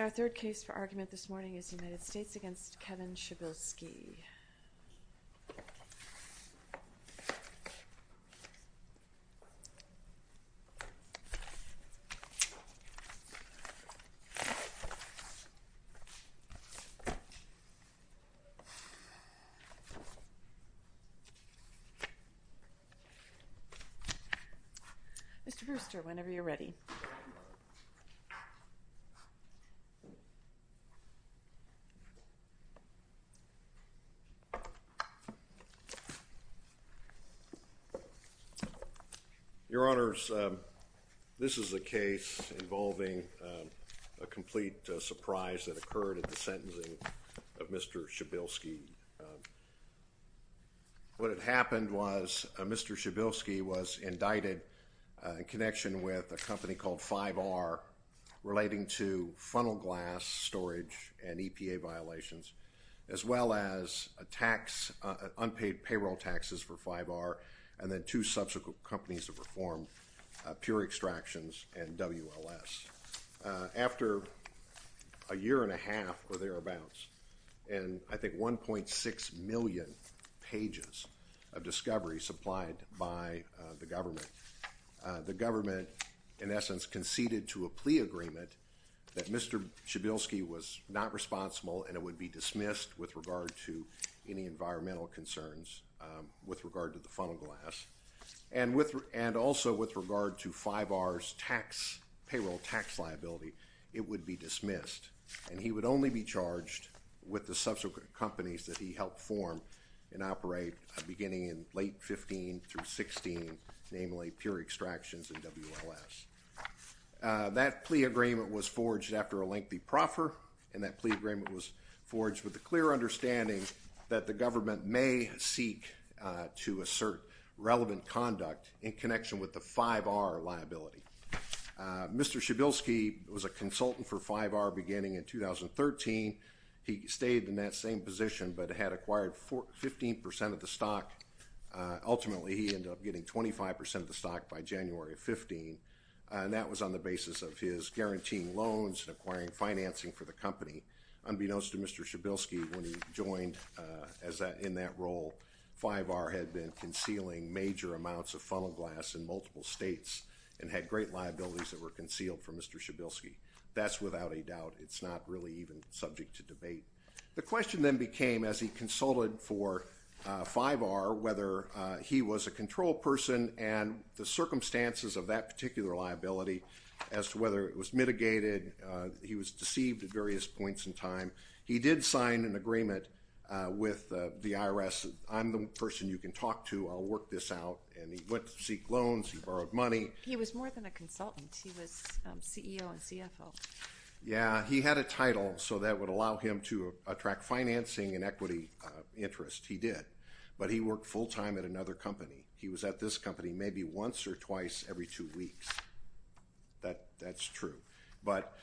Our third case for argument this morning is United States v. Kevin Shibilski. Mr. Brewster, whenever you're ready. Your Honors, this is a case involving a complete surprise that occurred at the sentencing of Mr. Shibilski. What had happened was Mr. Shibilski was indicted in connection with a company called 5R relating to funnel glass storage and EPA violations as well as unpaid payroll taxes for 5R and then two subsequent companies of reform, Pure Extractions and WLS. After a year and a half or thereabouts and I think 1.6 million pages of discovery supplied by the government, the government in essence conceded to a plea agreement that Mr. Shibilski was not responsible and it would be dismissed with regard to any environmental concerns with regard to the funnel glass and also with regard to 5R's payroll tax liability, it would be dismissed and he would only be charged with the subsequent companies that he helped form and operate beginning in late 15 through 16, namely Pure Extractions and WLS. That plea agreement was forged after a lengthy proffer and that plea agreement was forged with a clear understanding that the government may seek to assert relevant conduct in connection with the 5R liability. Mr. Shibilski was a lawyer. He stayed in that same position but had acquired 15% of the stock. Ultimately he ended up getting 25% of the stock by January of 15 and that was on the basis of his guaranteeing loans and acquiring financing for the company unbeknownst to Mr. Shibilski when he joined in that role. 5R had been concealing major amounts of funnel glass in multiple states and had great liabilities that were concealed from Mr. Shibilski. That's without a doubt. It's not really even subject to debate. The question then became as he consulted for 5R whether he was a control person and the circumstances of that particular liability as to whether it was mitigated. He was deceived at various points in time. He did sign an agreement with the IRS. I'm the person you can talk to. I'll work this out and he went to seek loans. He borrowed money. He was more than a consultant. He was CEO and he had a title so that would allow him to attract financing and equity interest. He did. But he worked full time at another company. He was at this company maybe once or twice every two weeks. That's true.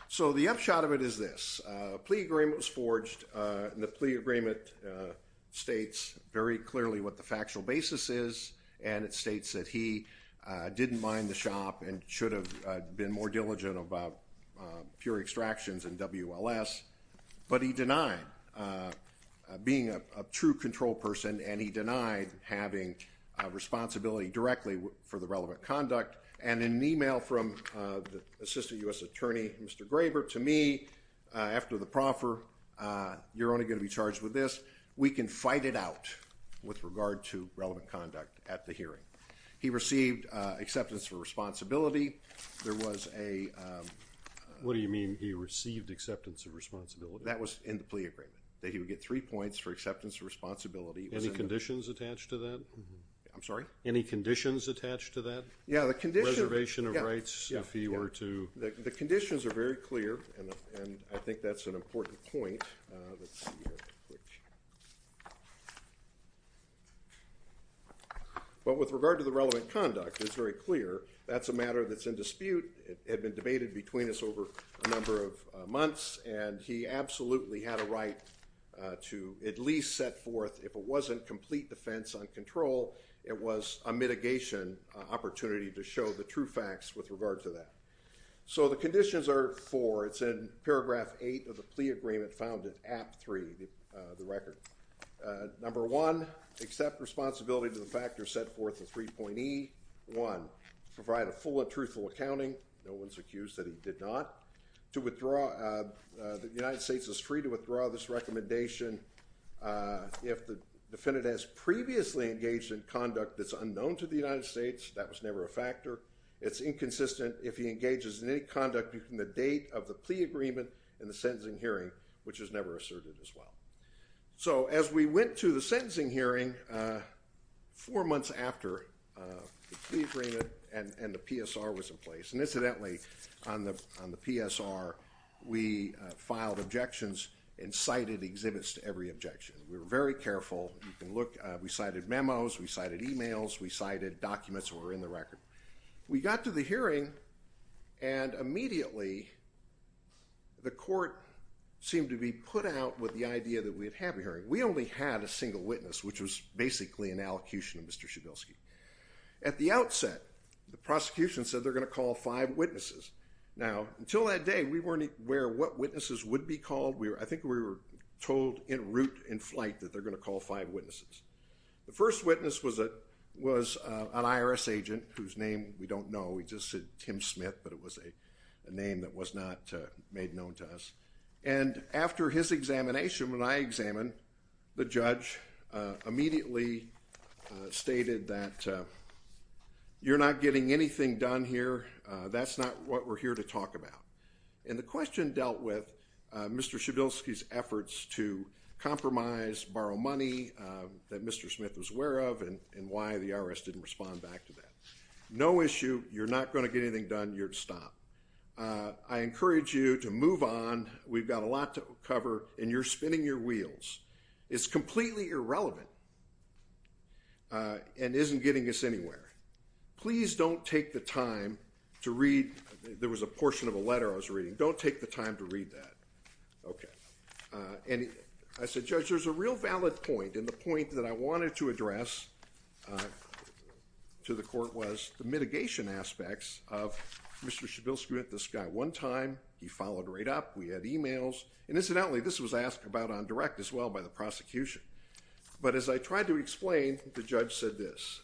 So the upshot of it is this. A plea agreement was forged. The plea agreement states very clearly what the factual basis is and it states that he didn't mind the shop and should have been more diligent about pure extractions and WLS. But he denied being a true control person and he denied having responsibility directly for the relevant conduct. And in an email from the Assistant U.S. Attorney, Mr. Graber, to me after the proffer, you're only going to be charged with this. We can fight it out with regard to relevant conduct at the hearing. He received acceptance of responsibility. There was a... What do you mean he received acceptance of responsibility? That was in the plea agreement. That he would get three points for acceptance of responsibility. Any conditions attached to that? I'm sorry? Any conditions attached to that? Yeah, the condition... Reservation of rights if he were to... The conditions are very clear and I think that's an important point. But with regard to the relevant conduct, it's very clear. That's a matter that's in dispute. It had been debated between us over a number of months and he absolutely had a right to at least set forth, if it wasn't complete defense on control, it was a mitigation opportunity to show the true facts with regard to that. So the conditions are four. It's in paragraph eight of the plea agreement found in Act Three, the record. Number one, accept responsibility to the factor set forth in 3.E. One, provide a full and truthful accounting. No one's accused that he did not. To withdraw... The United States is free to withdraw this recommendation if the defendant has previously engaged in conduct that's unknown to the United States. That was never a factor. It's inconsistent if he had a date of the plea agreement in the sentencing hearing, which is never asserted as well. So as we went to the sentencing hearing, four months after the plea agreement and the PSR was in place, and incidentally on the PSR, we filed objections and cited exhibits to every objection. We were very careful. We cited memos, we cited emails, we cited documents that were in the record. We got to the hearing, and immediately the court seemed to be put out with the idea that we'd have a hearing. We only had a single witness, which was basically an allocution of Mr. Shedelsky. At the outset, the prosecution said they're going to call five witnesses. Now, until that day, we weren't aware what witnesses would be called. I think we were told en route, in flight, that they're going to call five witnesses. The first witness was an IRS agent whose name we don't know. We just said Tim Smith, but it was a name that was not made known to us. And after his examination, when I examined, the judge immediately stated that, you're not getting anything done here. That's not what we're here to talk about. And the question dealt with Mr. Shedelsky's efforts to compromise, borrow money that Mr. Smith was aware of, and why the IRS didn't respond back to that. No issue, you're not going to get anything done, you're to stop. I encourage you to move on, we've got a lot to cover, and you're spinning your wheels. It's completely irrelevant, and isn't getting us anywhere. Please don't take the time to read, there was a portion of a letter I was reading, don't take the time to read that. Okay. And I said, Judge, there's a real valid point, and the point that I wanted to address to the court was the mitigation aspects of Mr. Shedelsky. This guy, one time, he followed right up, we had emails, and incidentally this was asked about on direct as well by the prosecution. But as I tried to explain, the judge said this,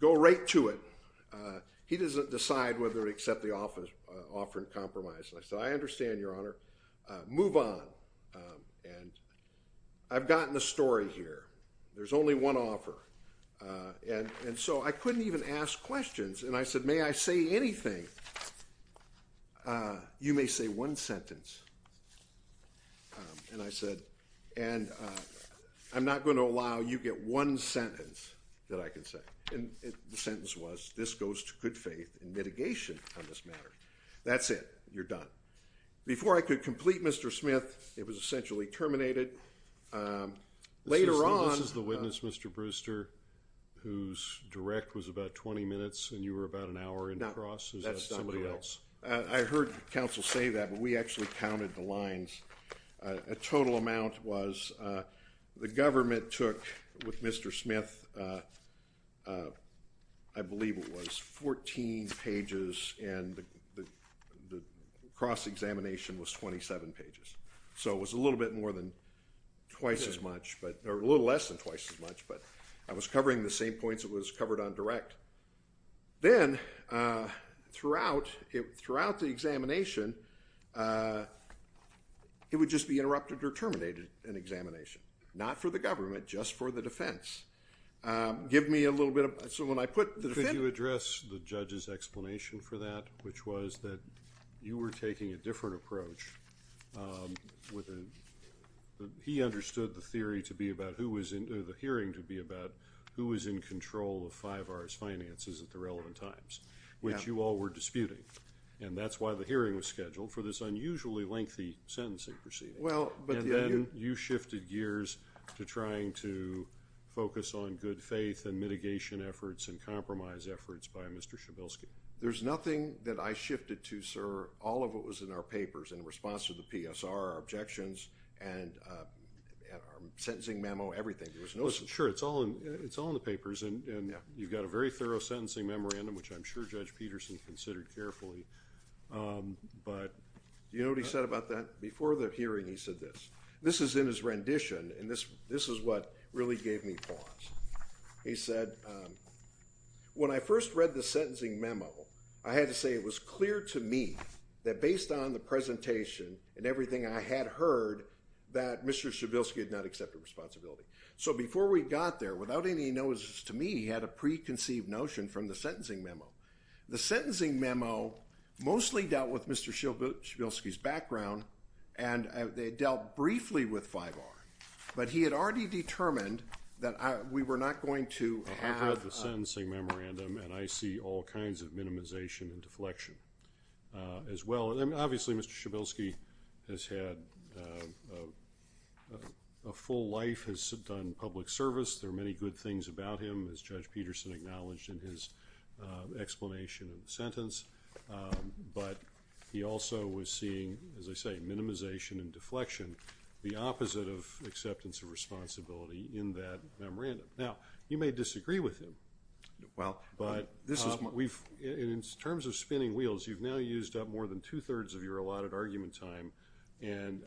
go right to it. He doesn't decide whether to accept the offer and compromise. I said, I understand, Your Honor, move on. And I've gotten a story here, there's only one offer. And so I couldn't even ask questions, and I said, may I say anything? You may say one sentence. And I said, and I'm not going to allow you to get one sentence that I can say. And the sentence was, this goes to good faith in mitigation on this matter. That's it. You're done. Before I could complete Mr. Smith, it was essentially terminated. Later on- This is the witness, Mr. Brewster, whose direct was about 20 minutes and you were about an hour in the cross. Is that somebody else? I heard counsel say that, but we actually counted the lines. A total amount was, the government took, with Mr. Smith, I believe it was 14 pages, and the government took, the cross-examination was 27 pages. So it was a little bit more than twice as much, or a little less than twice as much, but I was covering the same points it was covered on direct. Then, throughout the examination, it would just be interrupted or terminated in examination. Not for the government, just for the defense. Give me a little bit of, so when I put the defendant- Could you address the judge's explanation for that, which was that you were taking a different approach. He understood the theory to be about, the hearing to be about, who was in control of 5R's finances at the relevant times, which you all were disputing. That's why the hearing was scheduled for this unusually lengthy sentencing proceeding. Then you shifted gears to trying to focus on good faith and there was nothing that I shifted to, sir, all of it was in our papers, in response to the PSR, our objections, and our sentencing memo, everything. There was no- Sure, it's all in the papers, and you've got a very thorough sentencing memorandum, which I'm sure Judge Peterson considered carefully. But- You know what he said about that? Before the hearing, he said this. This is in his rendition, and this is what really gave me pause. He said, when I first read the sentencing memo, I had to say it was clear to me, that based on the presentation and everything I had heard, that Mr. Shabilsky had not accepted responsibility. So before we got there, without any notices to me, he had a preconceived notion from the sentencing memo. The sentencing memo mostly dealt with Mr. Shabilsky's background, and they dealt briefly with 5R. But he had already determined that we were not going to have- Obviously, Mr. Shabilsky has had a full life, has done public service. There are many good things about him, as Judge Peterson acknowledged in his explanation of the sentence. But he also was seeing, as I say, minimization and deflection, the opposite of acceptance of responsibility in that memorandum. Now, you may disagree with him. But in terms of spinning wheels, you've now used up more than two-thirds of your allotted argument time, and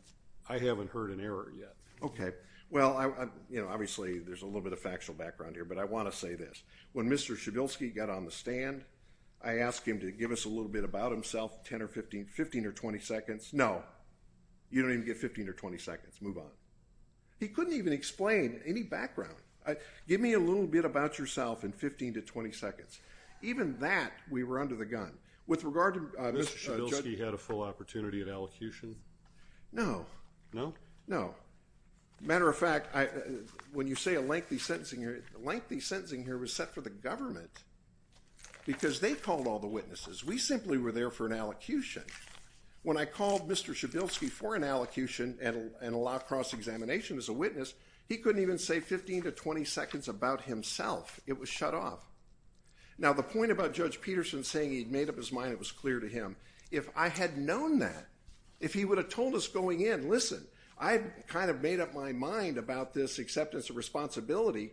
I haven't heard an error yet. Okay. Well, obviously, there's a little bit of factual background here, but I want to say this. When Mr. Shabilsky got on the stand, I asked him to give us a little bit about himself, 10 or 15, 15 or 20 seconds. No. You don't even get 15 or 20 seconds. Move on. He couldn't even explain any background. Give me a little bit about yourself in 15 to 20 seconds. Even that, we were under the gun. With regard to- Mr. Shabilsky had a full opportunity of elocution? No. No? No. Matter of fact, when you say a lengthy sentencing here, lengthy sentencing here was set for the government because they called all the witnesses. We simply were there for an elocution. When I called Mr. Shabilsky for an elocution and a law cross-examination as a witness, he couldn't even say 15 to 20 seconds about himself. It was shut off. Now the point about Judge Peterson saying he'd made up his mind, it was clear to him. If I had known that, if he would have told us going in, listen, I kind of made up my mind about this acceptance of responsibility,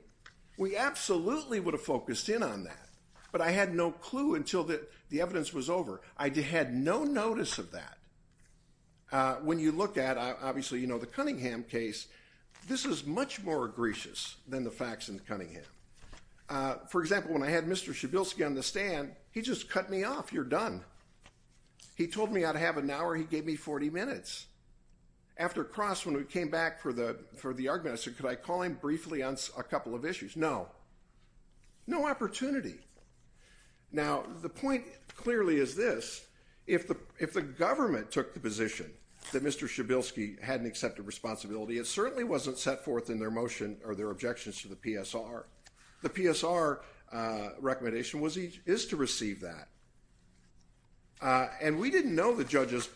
we absolutely would have focused in on that. But I had no clue until the evidence was over. I had no notice of that. When you look at, obviously you know the Cunningham case, this is much more egregious than the facts in Cunningham. For example, when I had Mr. Shabilsky on the stand, he just cut me off, you're done. He told me I'd have an hour, he gave me 40 minutes. After cross-examination, when we came back for the argument, I said, could I call him briefly on a couple of issues? No. No opportunity. Now the point clearly is this, if the government took the position that Mr. Shabilsky hadn't accepted responsibility, it certainly wasn't set forth in their motion or their objections to the PSR. The PSR recommendation is to receive that. And we didn't know the judge's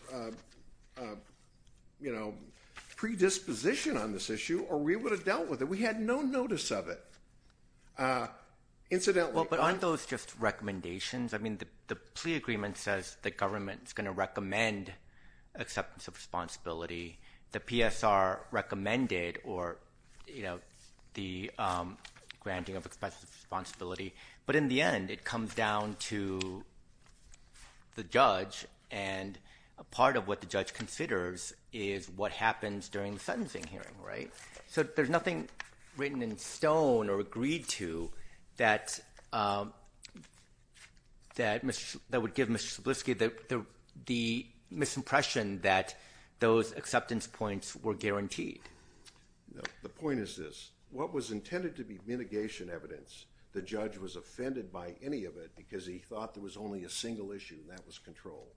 predisposition on this issue, or we would have dealt with it. We had no notice of it. Incidentally, I... Well, but aren't those just recommendations? I mean, the plea agreement says the government's going to recommend acceptance of responsibility. The PSR recommended or, you know, the granting of acceptance of responsibility. But in the end, it comes down to the judge, and a part of what the judge considers is what happens during the sentencing hearing, right? So there's nothing written in stone or agreed to that would give Mr. Shabilsky the misimpression that those acceptance points were guaranteed. The point is this. What was intended to be mitigation evidence, the judge was offended by any of it because he thought there was only a single issue, and that was control.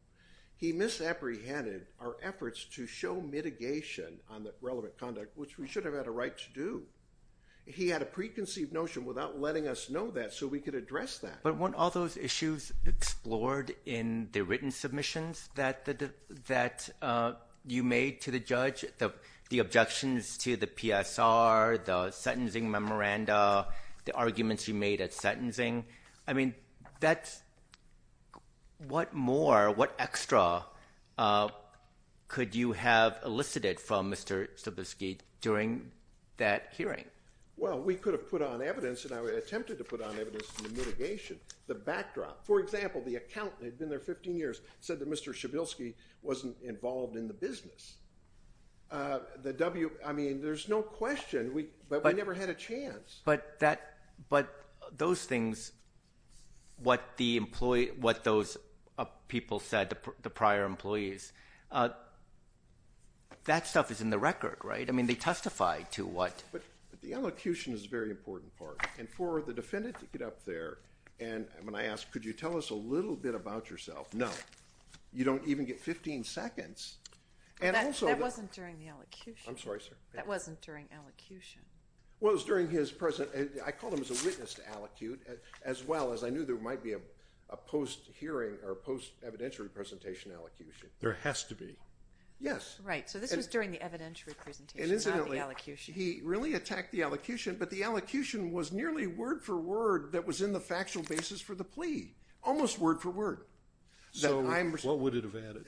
He misapprehended our efforts to show mitigation on the relevant conduct, which we should have had a right to do. He had a preconceived notion without letting us know that, so we could address that. But weren't all those issues explored in the written submissions that you made to the judge, the objections to the PSR, the sentencing memoranda, the arguments you made at sentencing? I mean, what more, what extra could you have elicited from Mr. Shabilsky during that hearing? Well, we could have put on evidence, and I attempted to put on evidence in the mitigation, the backdrop. For example, the accountant had been there 15 years, said that Mr. Shabilsky wasn't involved in the business. I mean, there's no question, but we never had a chance. But those things, what those people said, the prior employees, that stuff is in the record, right? I mean, they testified to what? The elocution is a very important part, and for the defendant to get up there, and when I asked, could you tell us a little bit about yourself, no. You don't even get 15 seconds. That wasn't during the elocution. I'm sorry, sir. That wasn't during elocution. Well, it was during his, I called him as a witness to elocute, as well as I knew there might be a post-hearing or post-evidentiary presentation elocution. There has to be. Yes. Right, so this was during the evidentiary presentation, not the elocution. And incidentally, he really attacked the elocution, but the elocution was nearly word for word that was in the factual basis for the plea, almost word for word. So, what would it have added?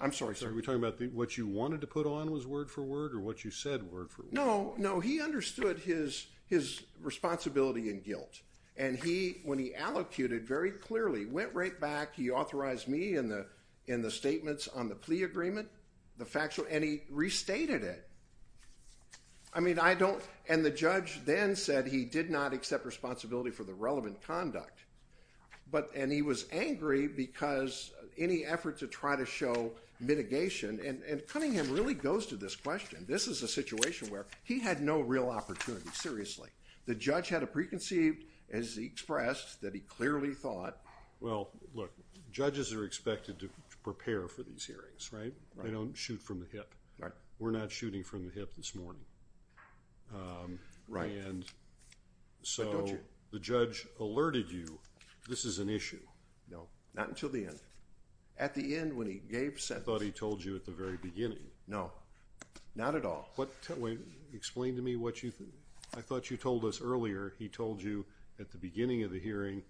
I'm sorry, sir. Are we talking about what you wanted to put on was word for word, or what you said word for word? No, no, he understood his responsibility and guilt, and he, when he elocuted very clearly, went right back, he authorized me in the statements on the plea agreement, the factual, and he restated it. I mean, I don't, and the judge then said he did not accept responsibility for the relevant conduct, but, and he was angry because any effort to try to show mitigation, and Cunningham really goes to this question. This is a situation where he had no real opportunity, seriously. The judge had a preconceived, as he expressed, that he clearly thought. Well, look, judges are expected to prepare for these hearings, right? Right. They don't shoot from the hip. Right. We're not shooting from the hip this morning. Right. And so, the judge alerted you, this is an issue. No, not until the end. At the end, when he gave sentence. I thought he told you at the very beginning. No, not at all. Explain to me what you, I thought you told us earlier, he told you at the beginning of the hearing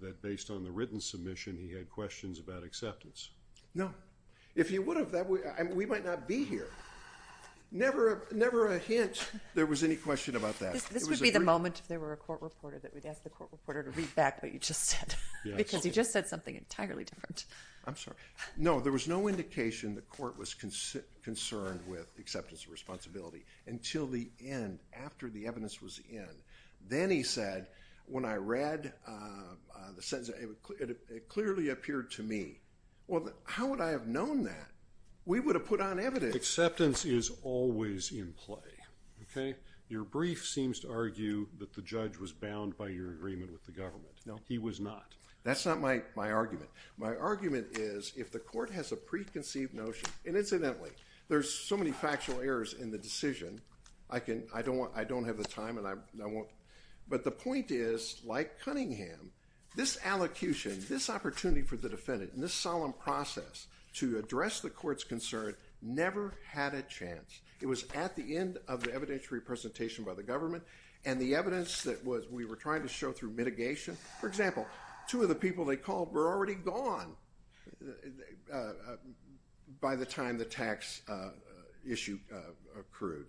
that based on the written submission, he had questions about acceptance. No. If he would have, we might not be here. Never a hint there was any question about that. This would be the moment if there were a court reporter that we'd ask the court reporter to read back what you just said, because you just said something entirely different. I'm sorry. No, there was no indication the court was concerned with acceptance of responsibility until the end, after the evidence was in. Then he said, when I read the sentence, it clearly appeared to me. Well, how would I have known that? We would have put on evidence. Acceptance is always in play, okay? Your brief seems to argue that the judge was bound by your agreement with the government. No. He was not. That's not my argument. My argument is, if the court has a preconceived notion, and incidentally, there's so many factual errors in the decision, I don't have the time and I won't, but the point is, like Cunningham, this allocution, this opportunity for the defendant, and this solemn process to address the court's concern never had a chance. It was at the end of the evidentiary presentation by the government, and the evidence that we were trying to show through mitigation, for example, two of the people they called were already gone by the time the tax issue accrued.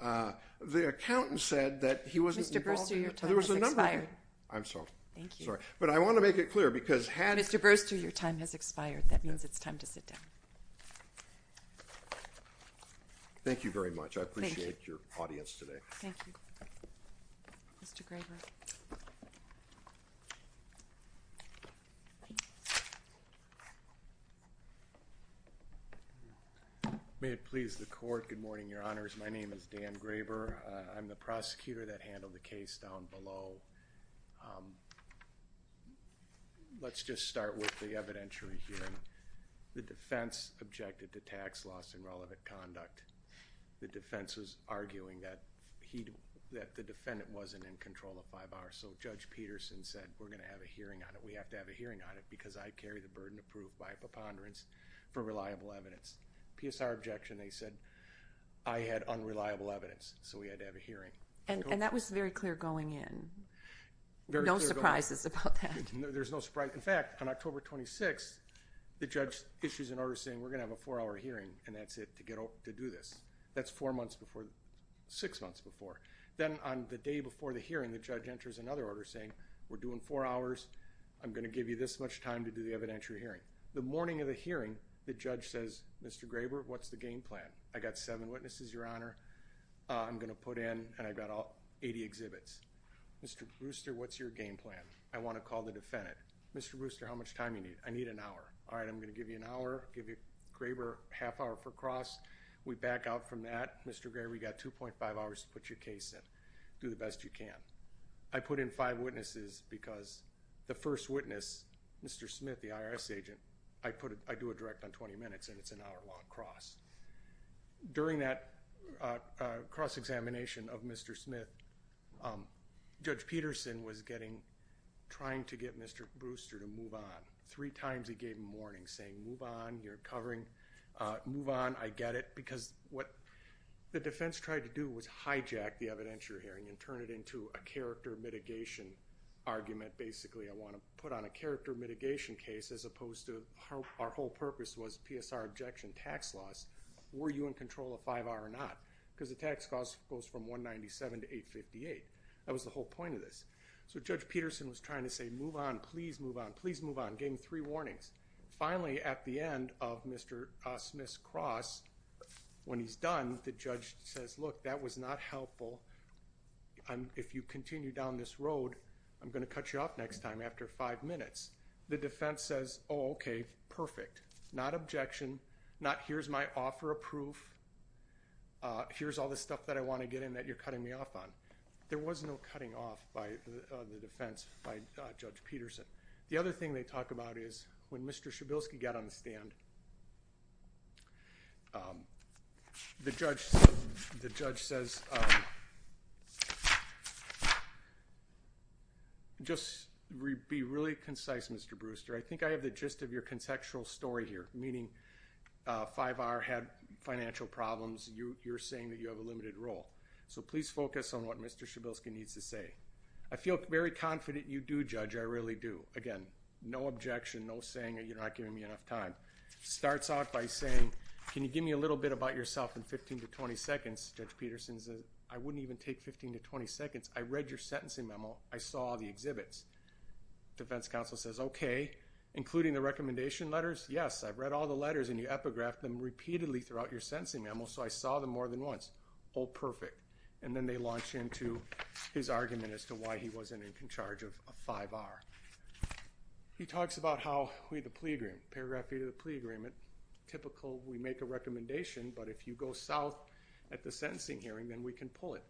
The accountant said that he wasn't involved in it. Mr. Burster, your time has expired. I'm sorry. Thank you. Sorry. But I want to make it clear, because had... Mr. Burster, your time has expired. That means it's time to sit down. Thank you very much. Thank you. I appreciate your audience today. Thank you. Mr. Graber. May it please the court. Good morning, Your Honors. My name is Dan Graber. I'm the prosecutor that handled the case down below. Let's just start with the evidentiary hearing. The defense objected to tax loss in relevant conduct. The defense was arguing that the defendant wasn't in control of five hours, so Judge Peterson said, we're going to have a hearing on it. We have to have a hearing on it because I carry the burden of proof by preponderance for reliable evidence. PSR objection, they said, I had unreliable evidence, so we had to have a hearing. And that was very clear going in. Very clear going in. No surprises about that. There's no surprise. In fact, on October 26th, the judge issues an order saying, we're going to have a four-hour hearing, and that's it, to do this. That's four months before, six months before. Then on the day before the hearing, the judge enters another order saying, we're doing four hours. I'm going to give you this much time to do the evidentiary hearing. The morning of the hearing, the judge says, Mr. Graber, what's the game plan? I got seven witnesses, Your Honor. I'm going to put in, and I got all 80 exhibits. Mr. Brewster, what's your game plan? I want to call the defendant. Mr. Brewster, how much time do you need? I need an hour. All right, I'm going to give you an hour. I'll give you, Graber, a half hour per cross. We back out from that. Mr. Graber, you got 2.5 hours to put your case in. Do the best you can. I put in five witnesses because the first witness, Mr. Smith, the IRS agent, I do a direct on 20 minutes, and it's an hour-long cross. During that cross-examination of Mr. Smith, Judge Peterson was trying to get Mr. Brewster to move on. Three times he gave him warnings, saying, Move on. You're covering. Move on. I get it. Because what the defense tried to do was hijack the evidence you're hearing and turn it into a character mitigation argument. Basically, I want to put on a character mitigation case as opposed to our whole purpose was PSR objection tax loss. Were you in control of 5R or not? Because the tax cost goes from 197 to 858. That was the whole point of this. So Judge Peterson was trying to say, Move on. Please move on. Please move on. Gave him three warnings. Finally, at the end of Mr. Smith's cross, when he's done, the judge says, Look, that was not helpful. If you continue down this road, I'm going to cut you off next time after five minutes. The defense says, Oh, okay. Perfect. Not objection. Not here's my offer of proof. Here's all the stuff that I want to get in that you're cutting me off on. There was no cutting off by the defense by Judge Peterson. The other thing they talk about is when Mr. Shabelsky got on the stand, the judge, the judge says, Just be really concise, Mr. Brewster. I think I have the gist of your contextual story here, meaning 5R had financial problems. You're saying that you have a limited role. So, please focus on what Mr. Shabelsky needs to say. I feel very confident you do, Judge. I really do. Again, no objection, no saying that you're not giving me enough time. Starts out by saying, Can you give me a little bit about yourself in 15 to 20 seconds? Judge Peterson says, I wouldn't even take 15 to 20 seconds. I read your sentencing memo. I saw all the exhibits. Defense counsel says, Okay, including the recommendation letters? Yes, I've read all the letters and you epigraphed them repeatedly throughout your sentencing memo, so I saw them more than once. All perfect. And then they launch into his argument as to why he wasn't in charge of 5R. He talks about how we, the plea agreement, paragraph 3 of the plea agreement, typical, we make a recommendation, but if you go south at the sentencing hearing, then we can pull it.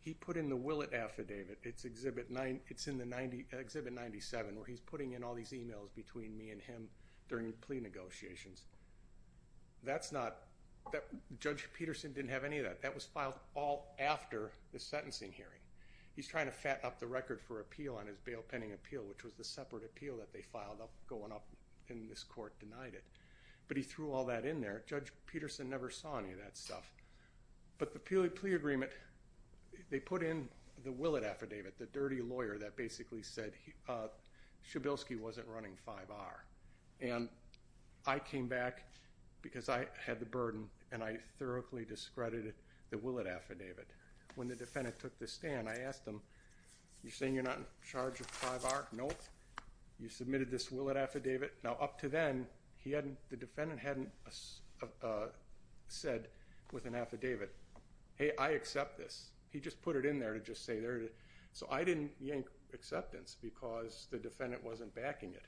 He put in the will it affidavit. It's exhibit 9, it's in the 90, exhibit 97, where he's putting in all these emails between me and him during plea negotiations. That's not, Judge Peterson didn't have any of that. That was filed all after the sentencing hearing. He's trying to fat up the record for appeal on his bail pending appeal, which was the separate appeal that they filed going up and this court denied it. But he threw all that in there. Judge Peterson never saw any of that stuff. But the plea agreement, they put in the will it affidavit, the dirty lawyer that basically said Shabelsky wasn't running 5R. And I came back because I had the burden and I thoroughly discredited the will it affidavit. When the defendant took the stand, I asked him, you're saying you're not in charge of 5R? Nope. You submitted this will it affidavit? Now, up to then, he hadn't, the defendant hadn't said with an affidavit, hey, I accept this. He just put it in there to just say there. So I didn't yank acceptance because the defendant wasn't backing it.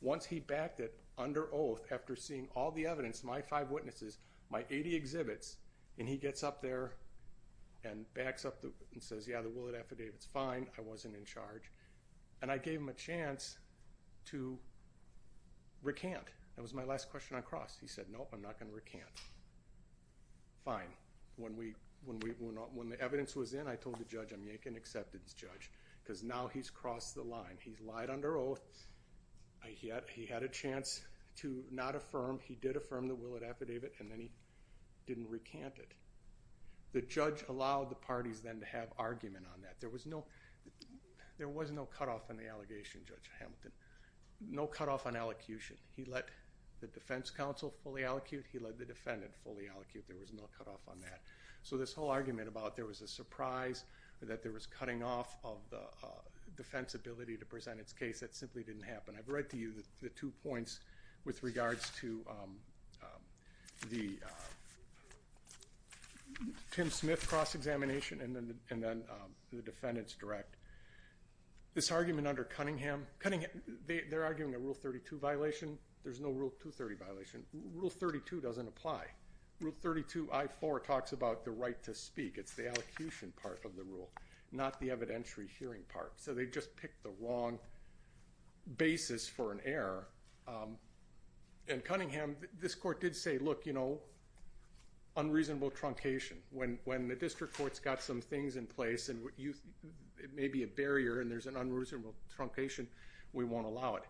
Once he backed it under oath after seeing all the evidence, my five witnesses, my 80 exhibits, and he gets up there and backs up and says, yeah, the will it affidavit's fine. I wasn't in charge. And I gave him a chance to recant. That was my last question on cross. He said, nope, I'm not going to recant. Fine. When the evidence was in, I told the judge, I'm yanking acceptance, judge, because now he's crossed the line. He's lied under oath. He had a chance to not affirm. He did affirm the will it affidavit, and then he didn't recant it. The judge allowed the parties then to have argument on that. There was no cutoff on the allegation, Judge Hamilton. No cutoff on allocution. He let the defense counsel fully allocute. He let the defendant fully allocate. There was no cutoff on that. So this whole argument about there was a surprise, that there was cutting off of the defense ability to present its case, that simply didn't happen. I've read to you the two points with regards to the Tim Smith cross-examination and then the defendant's direct. This argument under Cunningham, they're arguing a Rule 32 violation. There's no Rule 230 violation. Rule 32 doesn't apply. Rule 32 I-4 talks about the right to speak. It's the allocution part of the rule, not the evidentiary hearing part. So they just picked the wrong basis for an error. In Cunningham, this court did say, look, unreasonable truncation. When the district court's got some things in place and it may be a barrier and there's an unreasonable truncation, we won't allow it.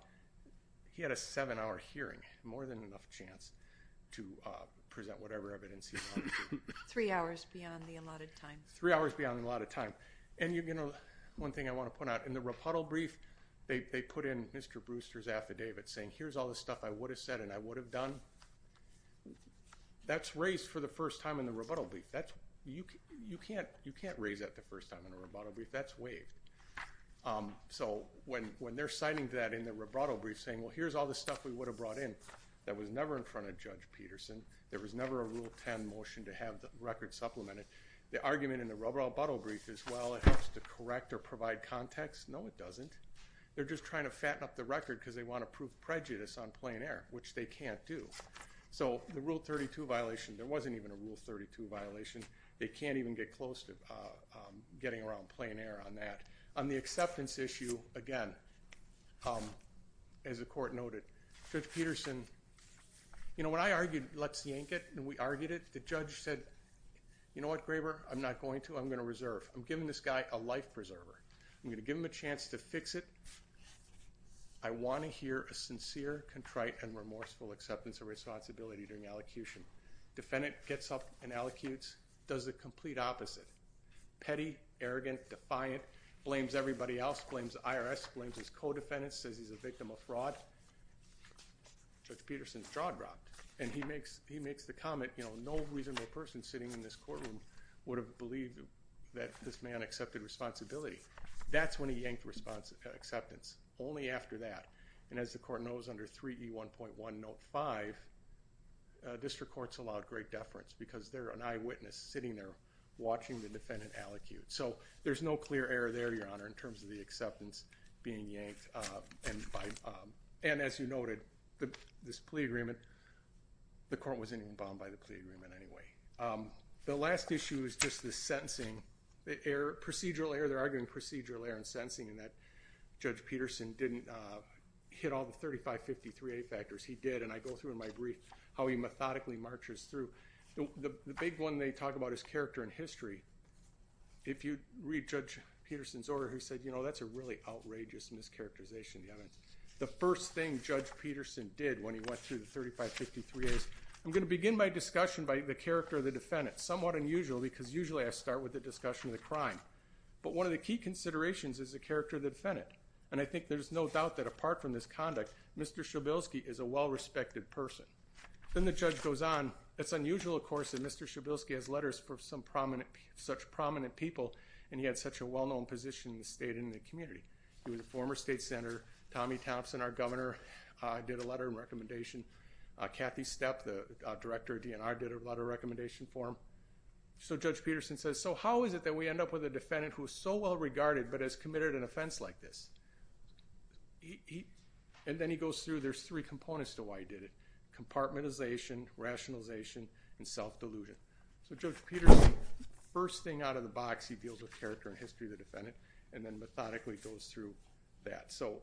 He had a seven-hour hearing, more than enough chance to present whatever evidence he wanted to. Three hours beyond the allotted time. Three hours beyond the allotted time. And one thing I want to point out, in the rebuttal brief, they put in Mr. Brewster's affidavit saying, here's all the stuff I would have said and I would have done. That's raised for the first time in the rebuttal brief. You can't raise that the first time in a rebuttal brief. That's waived. So when they're citing that in the rebuttal brief saying, well, here's all the stuff we would have brought in, that was never in front of Judge Peterson. There was never a Rule 10 motion to have the record supplemented. The argument in the rebuttal brief is, well, it helps to correct or provide context. No, it doesn't. They're just trying to fatten up the record because they want to prove prejudice on plain air, which they can't do. So the Rule 32 violation, there wasn't even a Rule 32 violation. They can't even get close to getting around plain air on that. On the acceptance issue, again, as the court noted, Judge Peterson, you know, when I argued let's yank it and we argued it, the judge said, you know what, Graber, I'm not going to. I'm going to reserve. I'm giving this guy a life preserver. I'm going to give him a chance to fix it. I want to hear a sincere, contrite, and remorseful acceptance of responsibility during allocution. Defendant gets up and allocutes, does the complete opposite, petty, arrogant, defiant, blames everybody else, blames the IRS, blames his co-defendants, says he's a victim of fraud. Judge Peterson's jaw dropped, and he makes the comment, you know, no reasonable person sitting in this courtroom would have believed that this man accepted responsibility. That's when he yanked acceptance, only after that. And as the court knows, under 3E1.105, district courts allowed great deference because they're an eyewitness sitting there watching the defendant allocute. So there's no clear error there, Your Honor, in terms of the acceptance being yanked. And as you noted, this plea agreement, the court wasn't even bound by the plea agreement anyway. The last issue is just the sentencing. Procedural error, they're arguing procedural error in sentencing, in that Judge Peterson didn't hit all the 3553A factors. He did, and I go through in my brief how he methodically marches through. The big one they talk about is character and history. If you read Judge Peterson's order, he said, you know, that's a really outrageous mischaracterization of the evidence. The first thing Judge Peterson did when he went through the 3553As, I'm going to begin my discussion by the character of the defendant. That's somewhat unusual because usually I start with the discussion of the crime. But one of the key considerations is the character of the defendant, and I think there's no doubt that apart from this conduct, Mr. Shabilsky is a well-respected person. Then the judge goes on. It's unusual, of course, that Mr. Shabilsky has letters from such prominent people, and he had such a well-known position in the state and in the community. He was a former state senator. Tommy Thompson, our governor, did a letter of recommendation. Kathy Stepp, the director of DNR, did a letter of recommendation for him. So Judge Peterson says, so how is it that we end up with a defendant who is so well-regarded but has committed an offense like this? And then he goes through. There's three components to why he did it, compartmentalization, rationalization, and self-delusion. So Judge Peterson, first thing out of the box, he deals with character and history of the defendant and then methodically goes through that. So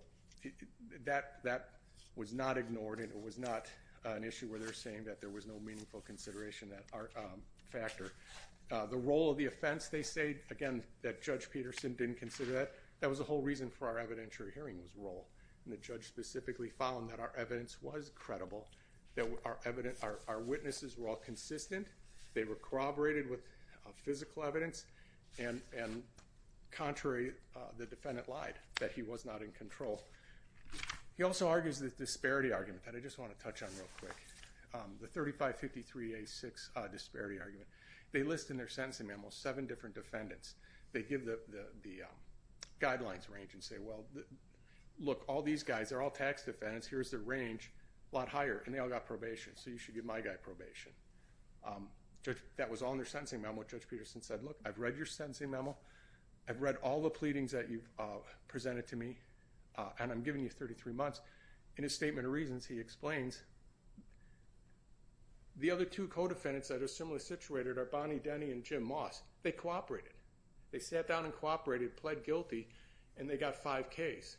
that was not ignored, and it was not an issue where they're saying that there was no meaningful consideration factor. The role of the offense, they say, again, that Judge Peterson didn't consider that. That was the whole reason for our evidentiary hearing was role, and the judge specifically found that our evidence was credible, that our witnesses were all consistent, they were corroborated with physical evidence, and contrary, the defendant lied, that he was not in control. He also argues the disparity argument that I just want to touch on real quick, the 3553A6 disparity argument. They list in their sentencing memo seven different defendants. They give the guidelines range and say, well, look, all these guys, they're all tax defendants, here's their range, a lot higher, and they all got probation, so you should give my guy probation. That was all in their sentencing memo. Judge Peterson said, look, I've read your sentencing memo, I've read all the pleadings that you've presented to me, and I'm giving you 33 months. In his statement of reasons, he explains the other two co-defendants that are similarly situated are Bonnie Denny and Jim Moss. They cooperated. They sat down and cooperated, pled guilty, and they got five Ks.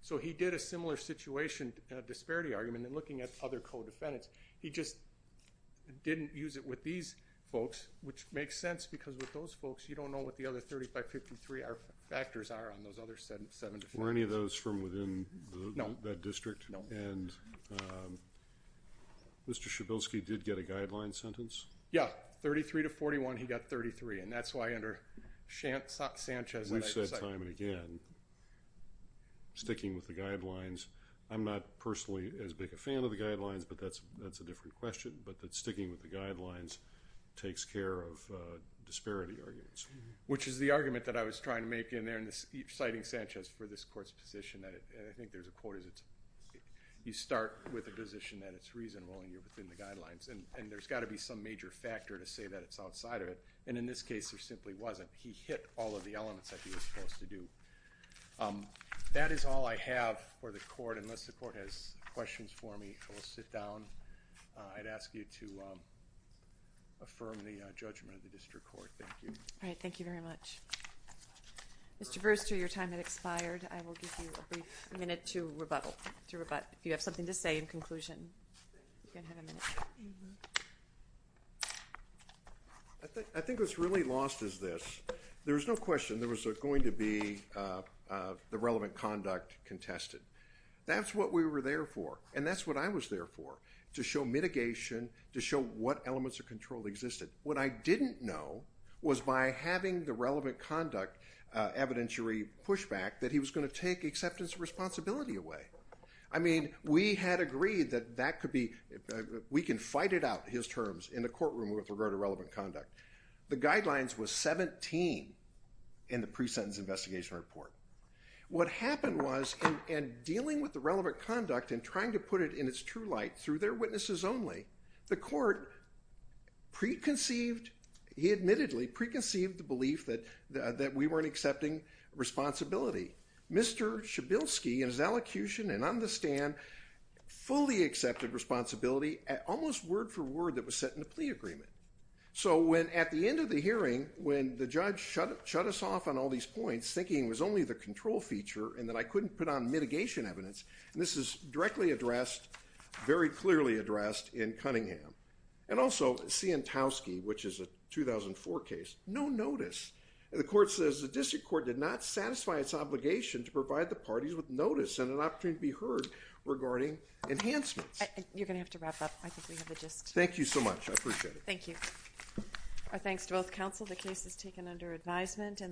So he did a similar situation, a disparity argument, in looking at other co-defendants. He just didn't use it with these folks, which makes sense because with those folks, you don't know what the other 3553A factors are on those other seven defendants. Were any of those from within that district? No. And Mr. Shabelsky did get a guideline sentence? Yeah. 33 to 41, he got 33, and that's why under Sanchez, we said time and again, sticking with the guidelines, I'm not personally as big a fan of the guidelines, but that's a different question, but that sticking with the guidelines takes care of disparity arguments. Which is the argument that I was trying to make in there, citing Sanchez for this court's position, and I think there's a quote, you start with a position that it's reasonable and you're within the guidelines, and there's got to be some major factor to say that it's outside of it, and in this case, there simply wasn't. He hit all of the elements that he was supposed to do. That is all I have for the court, unless the court has questions for me, so we'll sit down. I'd ask you to affirm the judgment of the district court. Thank you. All right, thank you very much. Mr. Brewster, your time has expired. I will give you a brief minute to rebuttal, if you have something to say in conclusion. You can have a minute. I think what's really lost is this. There was no question there was going to be the relevant conduct contested. That's what we were there for, and that's what I was there for, to show mitigation, to show what elements of control existed. What I didn't know was by having the relevant conduct evidentiary pushback that he was going to take acceptance of responsibility away. I mean, we had agreed that we can fight it out, his terms, in the courtroom with regard to relevant conduct. The guidelines was 17 in the pre-sentence investigation report. What happened was, in dealing with the relevant conduct and trying to put it in its true light through their witnesses only, the court preconceived, he admittedly preconceived the belief that we weren't accepting responsibility. Mr. Shabilsky, in his elocution and on the stand, fully accepted responsibility, almost word for word, that was set in the plea agreement. So at the end of the hearing, when the judge shut us off on all these points, his thinking was only the control feature and that I couldn't put on mitigation evidence, and this is directly addressed, very clearly addressed, in Cunningham. And also Sientowski, which is a 2004 case, no notice. The court says the district court did not satisfy its obligation to provide the parties with notice and an opportunity to be heard regarding enhancements. You're going to have to wrap up. I think we have a gist. Thank you so much. I appreciate it. Thank you. Our thanks to both counsel. The case is taken under advisement.